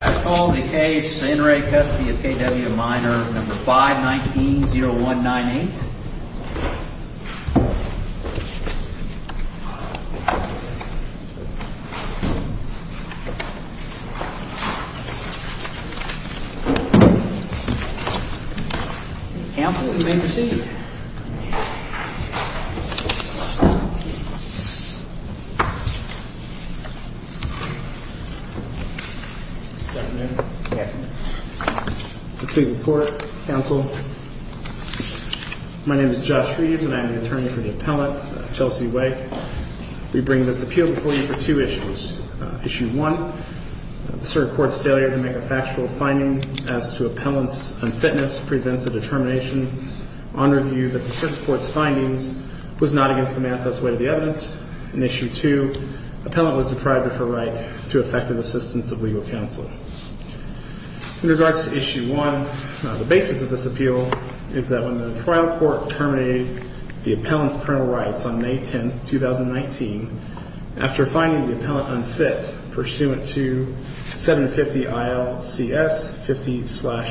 I call the case in re Custody of K.W. Minor number 519-0198. Cancel the bankruptcy. Please report, counsel. My name is Josh Reeves and I am the attorney for the appellant, Chelsea Way. We bring this appeal before you for two issues. Issue 1, the cert court's failure to make a factual finding as to appellant's unfitness prevents a determination on review that the cert court's findings was not against the manifest way of the evidence. And issue 2, appellant was deprived of her right to effective assistance of legal counsel. In regards to issue 1, the basis of this appeal is that when the trial court terminated the appellant's criminal rights on May 10, 2019, after finding the appellant unfit pursuant to 750 ILCS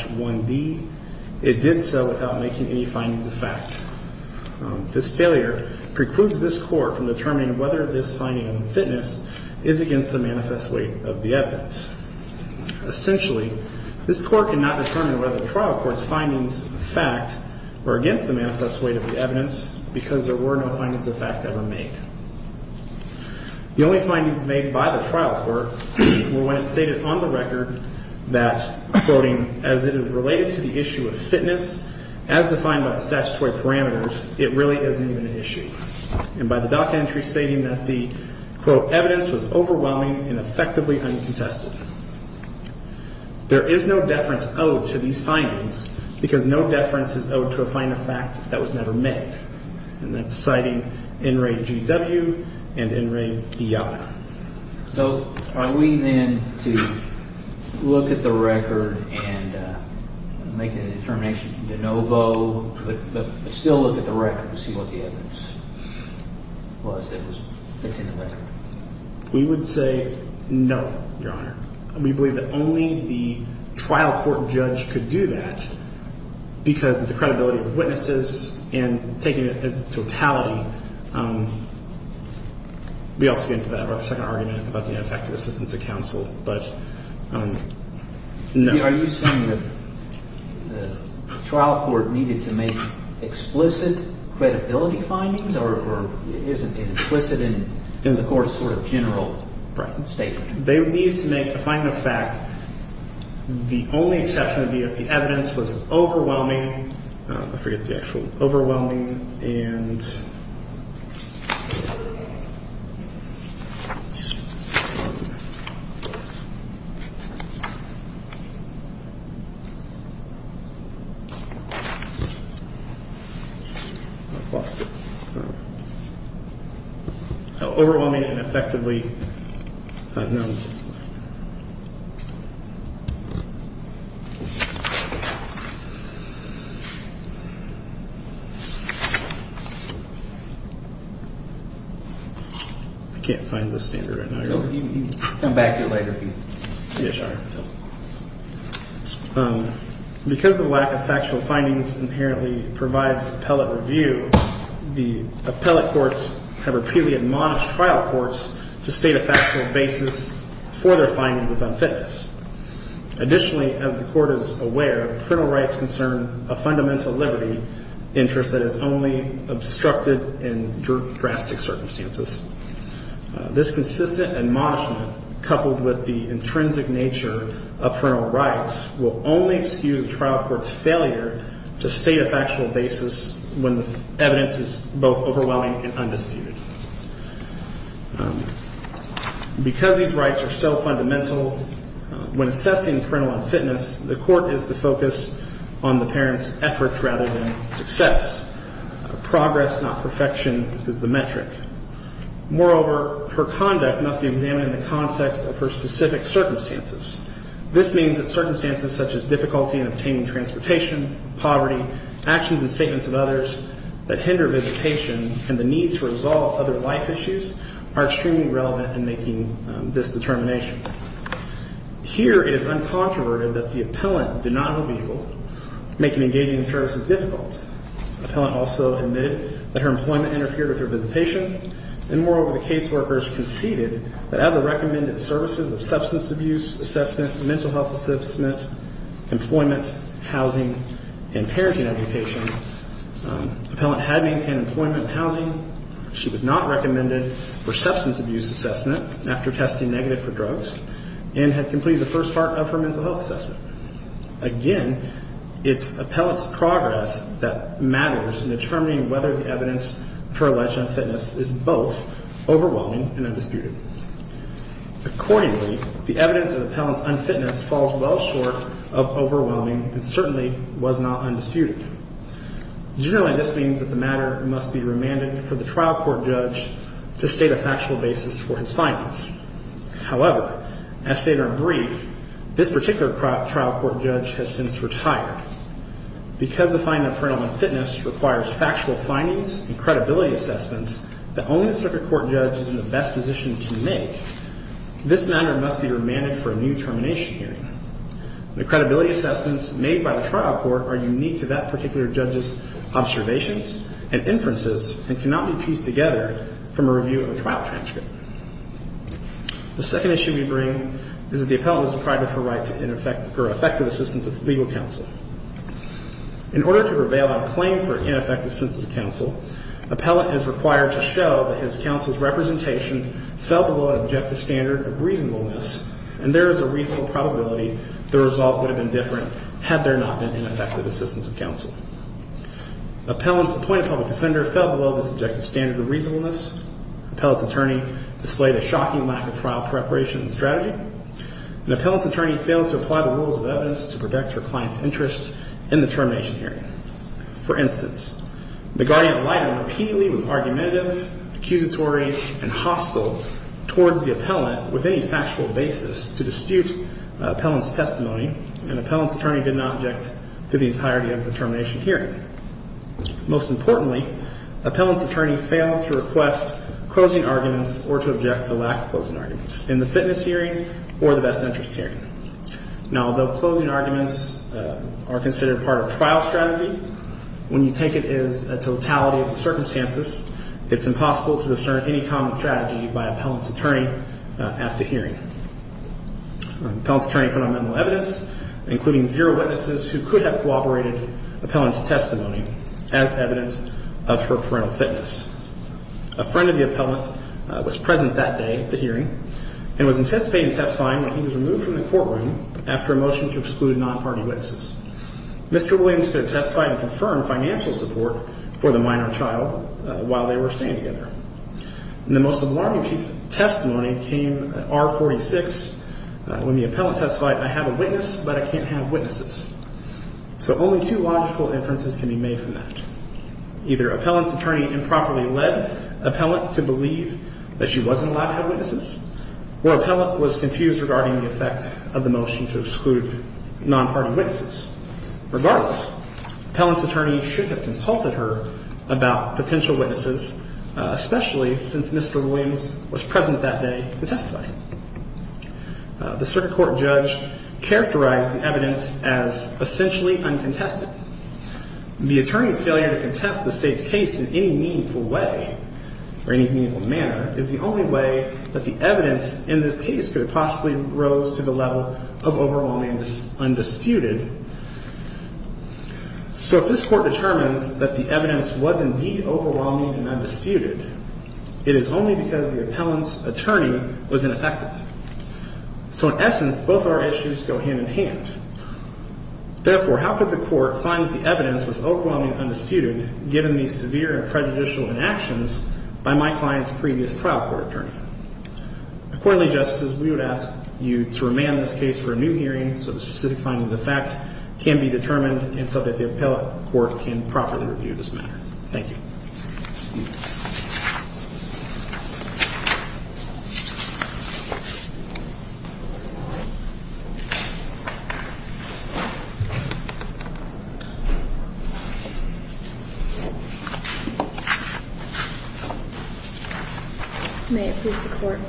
50-1D, it did so without making any findings of fact. This failure precludes this court from determining whether this finding of unfitness is against the manifest way of the evidence. Essentially, this court cannot determine whether the trial court's findings of fact were against the manifest way of the evidence because there were no findings of fact ever made. The only findings made by the trial court were when it stated on the record that, quoting, as it is related to the issue of fitness as defined by the statutory parameters, it really isn't even an issue. And by the doc entry stating that the, quote, evidence was overwhelming and effectively uncontested. There is no deference owed to these findings because no deference is owed to a finding of fact that was never made. And that's citing N. Ray G.W. and N. Ray Iyada. So are we then to look at the record and make a determination de novo, but still look at the record to see what the evidence was that's in the record? We would say no, Your Honor. We believe that only the trial court judge could do that because of the credibility of witnesses and taking it as a totality. We also get into that in our second argument about the ineffective assistance of counsel, but no. Are you saying that the trial court needed to make explicit credibility findings or isn't it implicit in the court's sort of general statement? They needed to make a finding of fact. The only exception would be if the evidence was overwhelming. I forget the actual overwhelming and. Overwhelming and effectively. I can't find the standard right now, Your Honor. You can come back to it later. Yes, Your Honor. Because the lack of factual findings inherently provides appellate review, the appellate courts have repeatedly admonished trial courts to state a factual basis for their findings of unfitness. Additionally, as the court is aware, parental rights concern a fundamental liberty interest that is only obstructed in drastic circumstances. This consistent admonishment, coupled with the intrinsic nature of parental rights, will only excuse a trial court's failure to state a factual basis when the evidence is both overwhelming and undisputed. Because these rights are so fundamental, when assessing parental unfitness, the court is to focus on the parent's efforts rather than success. Progress, not perfection, is the metric. Moreover, her conduct must be examined in the context of her specific circumstances. This means that circumstances such as difficulty in obtaining transportation, poverty, actions and statements of others that hinder visitation and the need to resolve other life issues are extremely relevant in making this determination. Here, it is uncontroverted that the appellant did not make engaging in services difficult. Appellant also admitted that her employment interfered with her visitation. And moreover, the caseworkers conceded that as the recommended services of substance abuse assessment, mental health assessment, employment, housing, and parenting education, appellant had maintained employment and housing, she was not recommended for substance abuse assessment after testing negative for drugs, and had completed the first part of her mental health assessment. Again, it's appellant's progress that matters in determining whether the evidence for alleged unfitness is both overwhelming and undisputed. Accordingly, the evidence of appellant's unfitness falls well short of overwhelming and certainly was not undisputed. Generally, this means that the matter must be remanded for the trial court judge to state a factual basis for his findings. However, as stated in brief, this particular trial court judge has since retired. Because the finding of appellant unfitness requires factual findings and credibility assessments that only the circuit court judge is in the best position to make, this matter must be remanded for a new termination hearing. The credibility assessments made by the trial court are unique to that particular judge's observations and inferences and cannot be pieced together from a review of a trial transcript. The second issue we bring is that the appellant is deprived of her right to ineffective or effective assistance of the legal counsel. In order to prevail on claim for ineffective assistance of counsel, appellant is required to show that his counsel's representation fell below an objective standard of reasonableness and there is a reasonable probability the result would have been different had there not been ineffective assistance of counsel. Appellant's appointed public defender fell below this objective standard of reasonableness. Appellant's attorney displayed a shocking lack of trial preparation and strategy. And appellant's attorney failed to apply the rules of evidence to protect her client's interest in the termination hearing. For instance, the guardian of light repeatedly was argumentative, accusatory, and hostile towards the appellant with any factual basis to dispute appellant's testimony and appellant's attorney did not object to the entirety of the termination hearing. Most importantly, appellant's attorney failed to request closing arguments or to object to lack of closing arguments in the fitness hearing or the best interest hearing. Now, although closing arguments are considered part of trial strategy, when you take it as a totality of the circumstances, it's impossible to discern any common strategy by appellant's attorney at the hearing. Appellant's attorney put on mental evidence, including zero witnesses who could have cooperated appellant's testimony as evidence of her parental fitness. A friend of the appellant was present that day at the hearing and was anticipated testifying when he was removed from the courtroom after a motion to exclude non-party witnesses. Mr. Williams could have testified and confirmed financial support for the minor child while they were staying together. And the most alarming piece of testimony came at R46 when the appellant testified, I have a witness, but I can't have witnesses. So only two logical inferences can be made from that. Either appellant's attorney improperly led appellant to believe that she wasn't allowed to have witnesses or appellant was confused regarding the effect of the motion to exclude non-party witnesses. Regardless, appellant's attorney should have consulted her about potential witnesses, especially since Mr. Williams was present that day to testify. The circuit court judge characterized the evidence as essentially uncontested. The attorney's failure to contest the state's case in any meaningful way or any meaningful manner is the only way that the evidence in this case could have possibly rose to the level of overwhelming undisputed. So if this Court determines that the evidence was indeed overwhelming and undisputed, it is only because the appellant's attorney was ineffective. So in essence, both our issues go hand in hand. Therefore, how could the Court find that the evidence was overwhelming and undisputed given these severe and prejudicial inactions by my client's previous trial court attorney? Accordingly, Justices, we would ask you to remand this case for a new hearing so the specific findings of the fact can be determined and so that the appellate court can properly review this matter. Thank you. May it please the Court.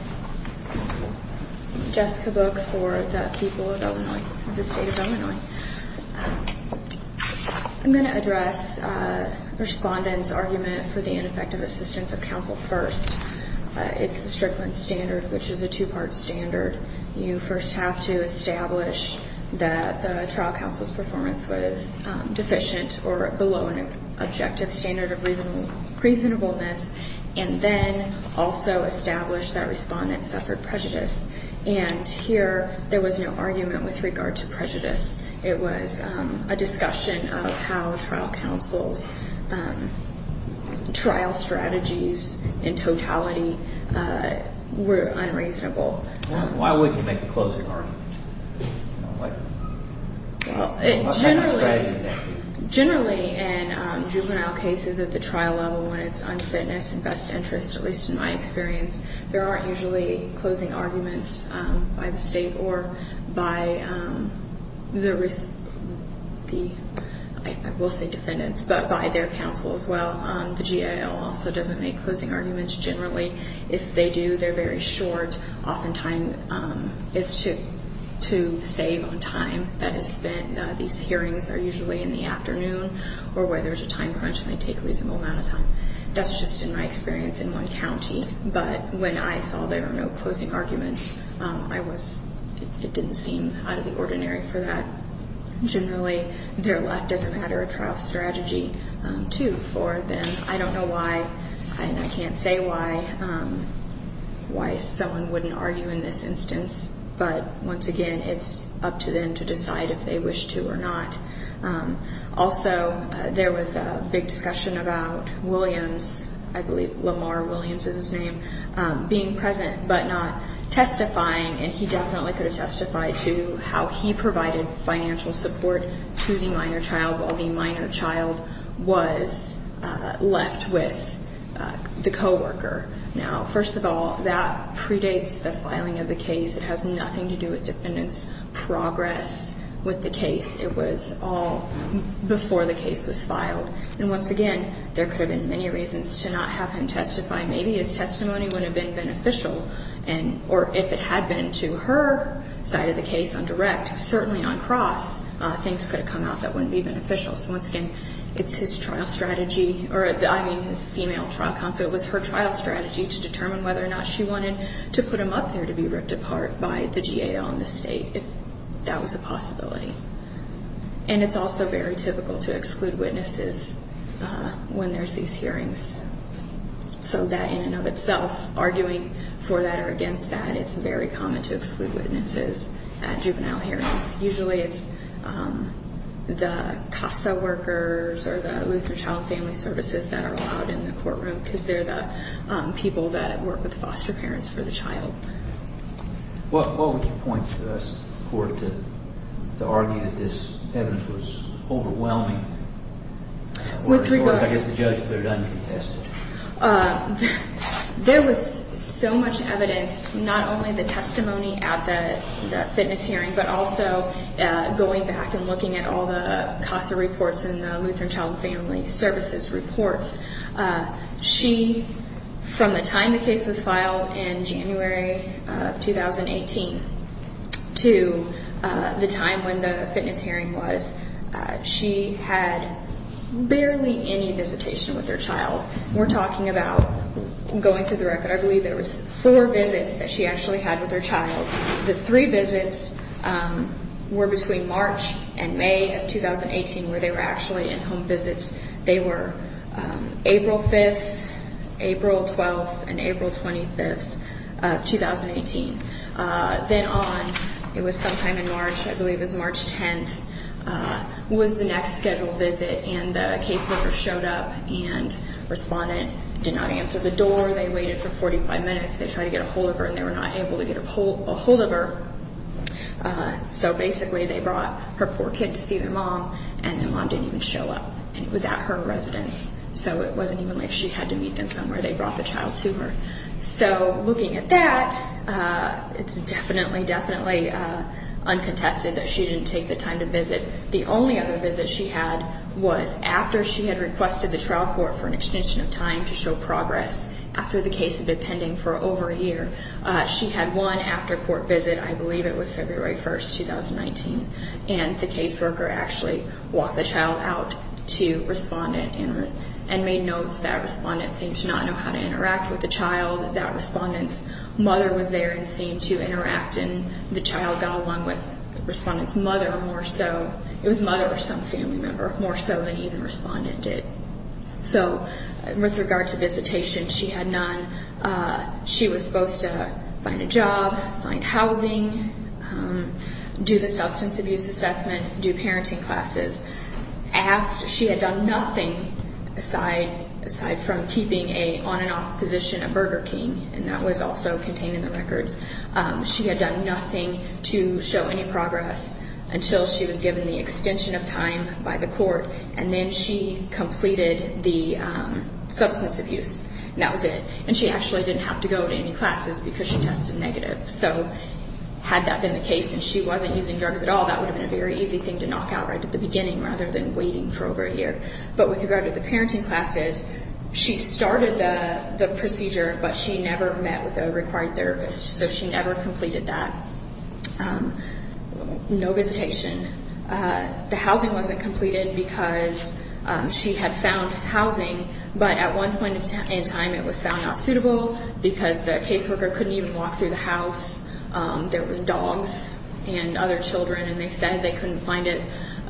Jessica Book for the people of Illinois, the state of Illinois. I'm going to address the respondent's argument for the ineffective assistance of counsel first. It's the Strickland standard, which is a two-part standard. You first have to establish that the trial counsel's performance was deficient or below an objective standard of reasonableness and then also establish that respondent suffered prejudice. And here, there was no argument with regard to prejudice. It was a discussion of how trial counsel's trial strategies in totality were unreasonable. Why wouldn't you make a closing argument? Generally, in juvenile cases at the trial level, when it's unfitness and best interest, at least in my experience, there aren't usually closing arguments by the state or by the, I will say defendants, but by their counsel as well. The GIL also doesn't make closing arguments. Generally, if they do, they're very short. Oftentimes, it's to save on time that is spent. These hearings are usually in the afternoon or where there's a time crunch and they take a reasonable amount of time. That's just in my experience in one county. But when I saw there were no closing arguments, it didn't seem out of the ordinary for that. Generally, their left doesn't have a trial strategy, too, for them. I don't know why and I can't say why someone wouldn't argue in this instance. But once again, it's up to them to decide if they wish to or not. Also, there was a big discussion about Williams, I believe Lamar Williams is his name, being present but not testifying. And he definitely could have testified to how he provided financial support to the minor child while the minor child was left with the coworker. Now, first of all, that predates the filing of the case. It has nothing to do with defendant's progress with the case. It was all before the case was filed. And once again, there could have been many reasons to not have him testify. Maybe his testimony would have been beneficial or if it had been to her side of the case on direct, certainly on cross, things could have come out that wouldn't be beneficial. So once again, it's his trial strategy, or I mean his female trial counsel, it was her trial strategy to determine whether or not she wanted to put him up there to be ripped apart by the GAO and the state if that was a possibility. And it's also very typical to exclude witnesses when there's these hearings. So that in and of itself, arguing for that or against that, it's very common to exclude witnesses at juvenile hearings. Usually it's the CASA workers or the Luther Child Family Services that are allowed in the courtroom because they're the people that work with foster parents for the child. What would you point to us, the court, to argue that this evidence was overwhelming? I guess the judge put it uncontested. There was so much evidence, not only the testimony at the fitness hearing, but also going back and looking at all the CASA reports and the Lutheran Child Family Services reports. She, from the time the case was filed in January of 2018 to the time when the fitness hearing was, she had barely any visitation with her child. We're talking about, going through the record, I believe there was four visits that she actually had with her child. The three visits were between March and May of 2018 where they were actually in-home visits. They were April 5th, April 12th, and April 25th of 2018. Then on, it was sometime in March, I believe it was March 10th, was the next scheduled visit and the caseworker showed up and the respondent did not answer the door. They waited for 45 minutes. They tried to get a hold of her and they were not able to get a hold of her. So basically they brought her poor kid to see the mom and the mom didn't even show up. It was at her residence, so it wasn't even like she had to meet them somewhere. They brought the child to her. So looking at that, it's definitely, definitely uncontested that she didn't take the time to visit. The only other visit she had was after she had requested the trial court for an extension of time to show progress after the case had been pending for over a year. She had one after-court visit, I believe it was February 1st, 2019. And the caseworker actually walked the child out to respondent and made notes that respondent seemed to not know how to interact with the child, that respondent's mother was there and seemed to interact and the child got along with respondent's mother more so. It was mother or some family member more so than even respondent did. So with regard to visitation, she had none. She was supposed to find a job, find housing, do the substance abuse assessment, do parenting classes. She had done nothing aside from keeping a on and off position at Burger King, and that was also contained in the records. She had done nothing to show any progress until she was given the extension of time by the court and then she completed the substance abuse and that was it. And she actually didn't have to go to any classes because she tested negative. So had that been the case and she wasn't using drugs at all, that would have been a very easy thing to knock out right at the beginning rather than waiting for over a year. But with regard to the parenting classes, she started the procedure, but she never met with a required therapist. So she never completed that. No visitation. The housing wasn't completed because she had found housing, but at one point in time it was found not suitable because the caseworker couldn't even walk through the house. There were dogs and other children and they said they couldn't find it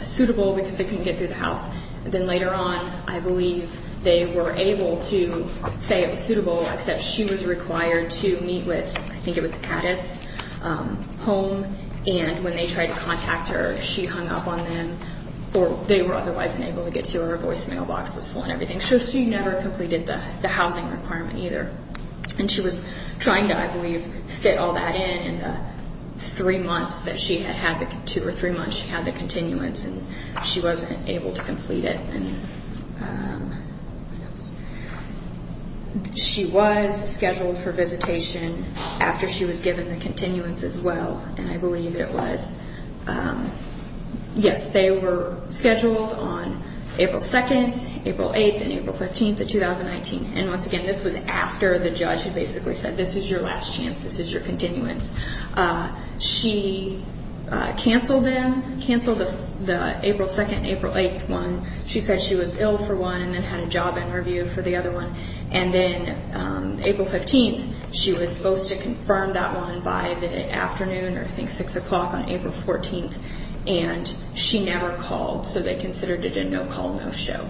suitable because they couldn't get through the house. Then later on, I believe, they were able to say it was suitable, except she was required to meet with, I think it was Addis Home, and when they tried to contact her, she hung up on them or they were otherwise unable to get to her. Her voice mailbox was full and everything. So she never completed the housing requirement either. She was trying to, I believe, fit all that in in the three months that she had the continuance and she wasn't able to complete it. She was scheduled for visitation after she was given the continuance as well, and I believe it was, yes, they were scheduled on April 2nd, April 8th, and April 15th of 2019. And once again, this was after the judge had basically said, this is your last chance, this is your continuance. She canceled the April 2nd, April 8th one. She said she was ill for one and then had a job interview for the other one. And then April 15th, she was supposed to confirm that one by the afternoon or I think 6 o'clock on April 14th, and she never called. So they considered it a no-call, no-show.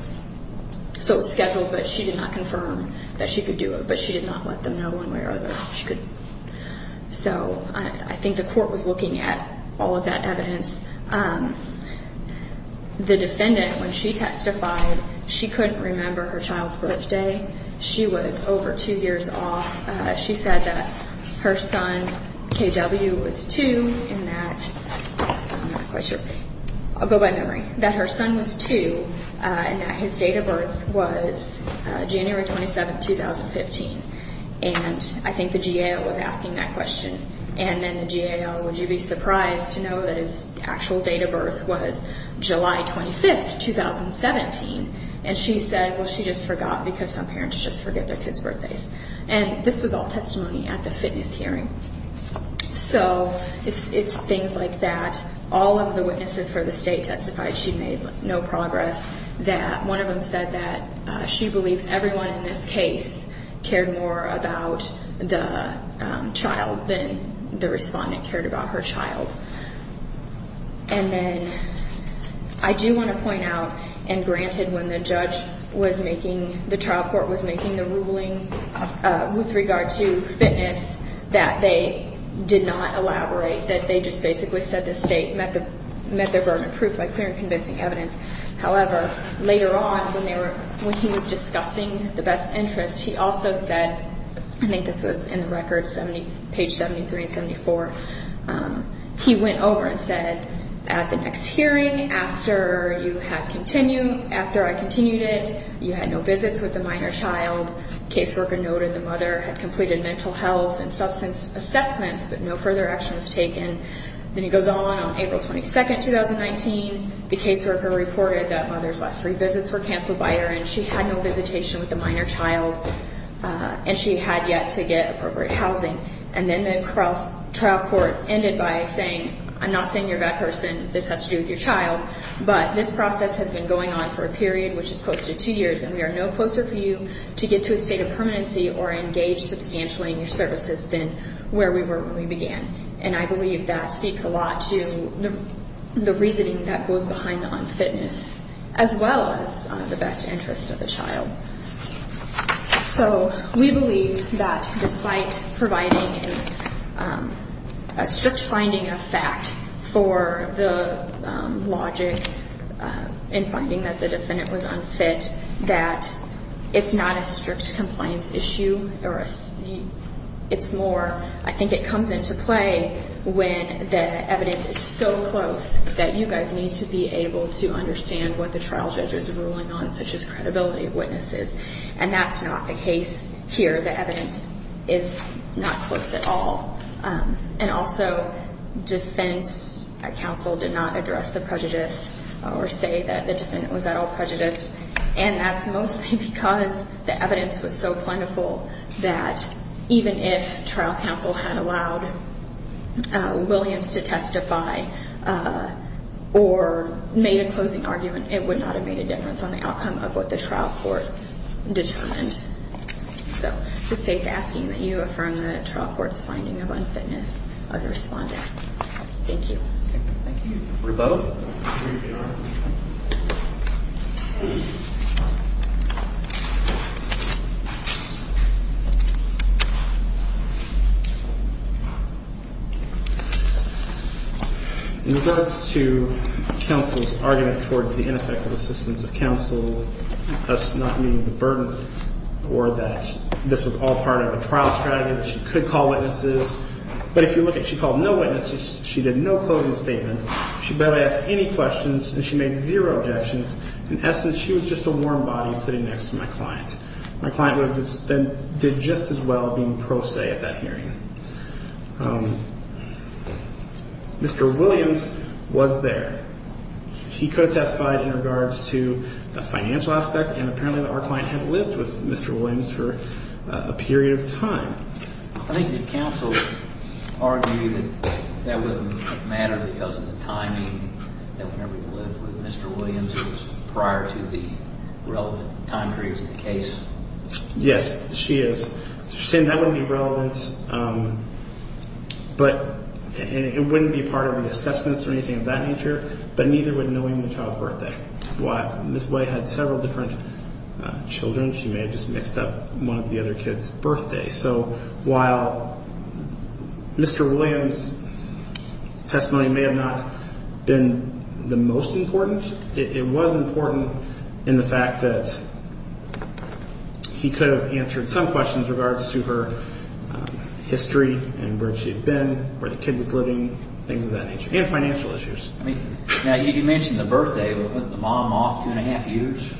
So it was scheduled, but she did not confirm that she could do it, but she did not let them know one way or another that she could. So I think the court was looking at all of that evidence. The defendant, when she testified, she couldn't remember her child's birthday. She was over two years off. She said that her son, KW, was two and that, I'm not quite sure, I'll go by memory, that her son was two and that his date of birth was January 27th, 2015. And I think the GAO was asking that question. And then the GAO, would you be surprised to know that his actual date of birth was July 25th, 2017? And she said, well, she just forgot because some parents just forget their kids' birthdays. And this was all testimony at the fitness hearing. So it's things like that. All of the witnesses for the state testified. She made no progress. One of them said that she believes everyone in this case cared more about the child than the respondent cared about her child. And then I do want to point out, and granted, when the trial court was making the ruling with regard to fitness, that they did not elaborate, that they just basically said the state met their burden of proof by clear and convincing evidence. However, later on, when he was discussing the best interest, he also said, I think this was in the record, page 73 and 74, he went over and said, at the next hearing, after you had continued, after I continued it, you had no visits with the minor child, caseworker noted the mother had completed mental health and substance assessments, but no further action was taken. Then he goes on, on April 22nd, 2019, the caseworker reported that mother's last three visits were canceled by her, and she had no visitation with the minor child, and she had yet to get appropriate housing. And then the trial court ended by saying, I'm not saying you're a bad person, this has to do with your child, but this process has been going on for a period which is close to two years, and we are no closer for you to get to a state of permanency or engage substantially in your services than where we were when we began. And I believe that speaks a lot to the reasoning that goes behind the unfitness, as well as the best interest of the child. So, we believe that despite providing a strict finding of fact for the logic in finding that the defendant was unfit, that it's not a strict compliance issue, it's more, I think it comes into play when the evidence is so close that you guys need to be able to understand what the trial judge is ruling on, such as credibility of witnesses. And that's not the case here, the evidence is not close at all. And also, defense counsel did not address the prejudice or say that the defendant was at all prejudiced. And that's mostly because the evidence was so plentiful that even if trial counsel had allowed Williams to testify or made a closing argument, it would not have made a difference on the outcome of what the trial court determined. So, the state's asking that you affirm the trial court's finding of unfitness of the respondent. Thank you. Thank you. Rebella? Here you are. In regards to counsel's argument towards the ineffective assistance of counsel, us not meeting the burden or that this was all part of a trial strategy, that she could call witnesses, but if you look at, she called no witnesses, she did no closing statement, she barely asked any questions, and she made zero objections. In essence, she was just a warm body sitting next to my client. My client would have done just as well being pro se at that hearing. Mr. Williams was there. He co-testified in regards to the financial aspect and apparently our client had lived with Mr. Williams for a period of time. Yes, she is. She's saying that wouldn't be relevant, but it wouldn't be part of the assessments or anything of that nature. But neither would knowing the child's birthday. Ms. White had several different children. She may have just mixed up one of the other kids' birthdays. So while Mr. Williams' testimony may have not been the most important, it was important in the fact that he could have answered some questions in regards to her history and where she had been, where the kid was living, things of that nature, and financial issues. Now, you mentioned the birthday. Was the mom off two and a half years?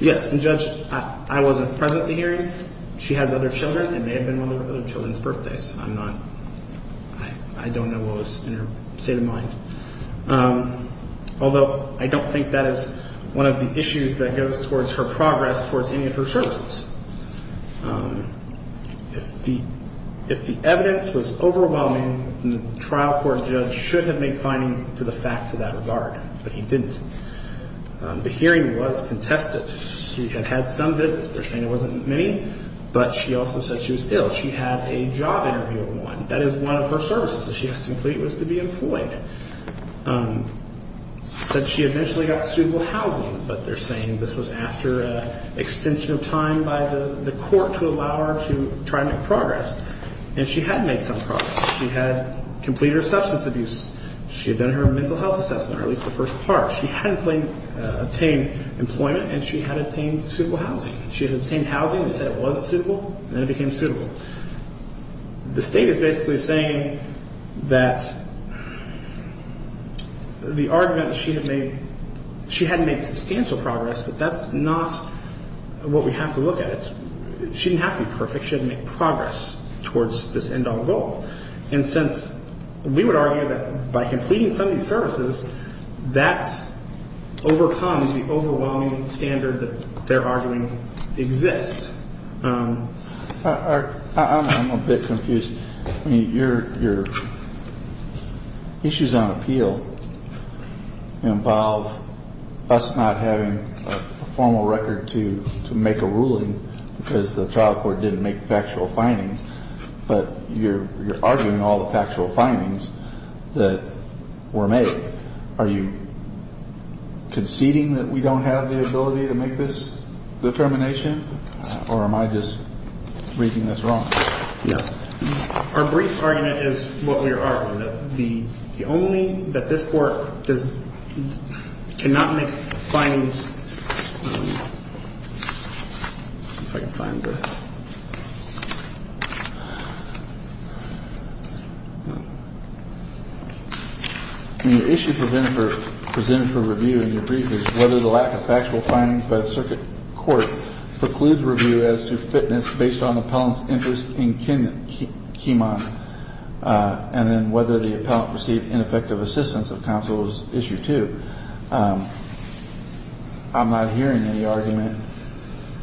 Yes, and Judge, I wasn't present at the hearing. She has other children. It may have been one of the other children's birthdays. I don't know what was in her state of mind. Although, I don't think that is one of the issues that goes towards her progress towards any of her services. If the evidence was overwhelming, the trial court judge should have made findings to the fact to that regard. But he didn't. The hearing was contested. She had had some visits. They're saying it wasn't many. But she also said she was ill. She had a job interview of one. That is one of her services that she has to complete was to be employed. Said she eventually got suitable housing. But they're saying this was after an extension of time by the court to allow her to try to make progress. And she had made some progress. She had completed her substance abuse. She had done her mental health assessment, or at least the first part. She had obtained employment, and she had obtained suitable housing. She had obtained housing and said it wasn't suitable, and then it became suitable. The state is basically saying that the argument that she had made, she had made substantial progress, but that's not what we have to look at. She didn't have to be perfect. She had to make progress towards this end-all goal. And since we would argue that by completing some of these services, that's overcome as the overwhelming standard that they're arguing exists. I'm a bit confused. I mean, your issues on appeal involve us not having a formal record to make a ruling because the trial court didn't make factual findings, but you're arguing all the factual findings that were made. Are you conceding that we don't have the ability to make this determination? Or am I just reading this wrong? No. Our brief argument is what we are arguing, that the only, that this court cannot make findings, if I can find the... I mean, the issue presented for review in your brief is whether the lack of factual findings by the circuit court precludes review as to fitness based on the appellant's interest in Kimon, and then whether the appellant received ineffective assistance of counsel is issue two. I'm not hearing any argument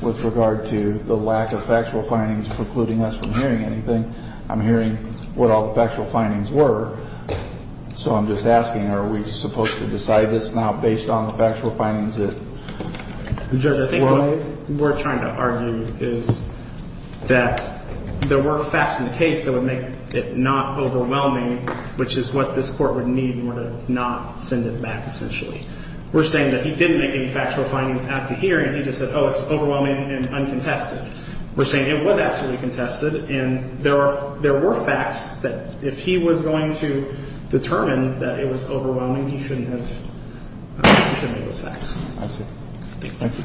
with regard to the lack of factual findings precluding us from hearing anything. I'm hearing what all the factual findings were. So I'm just asking, are we supposed to decide this now based on the factual findings that were made? Judge, I think what we're trying to argue is that there were facts in the case that would make it not overwhelming, which is what this court would need in order to not send it back, essentially. We're saying that he didn't make any factual findings after hearing. He just said, oh, it's overwhelming and uncontested. We're saying it was absolutely contested, and there were facts that if he was going to determine that it was overwhelming, he shouldn't have made those facts. I see. Thank you.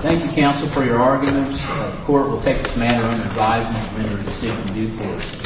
Thank you, counsel, for your arguments. The court will take this matter under advisement when there is a decision due for it.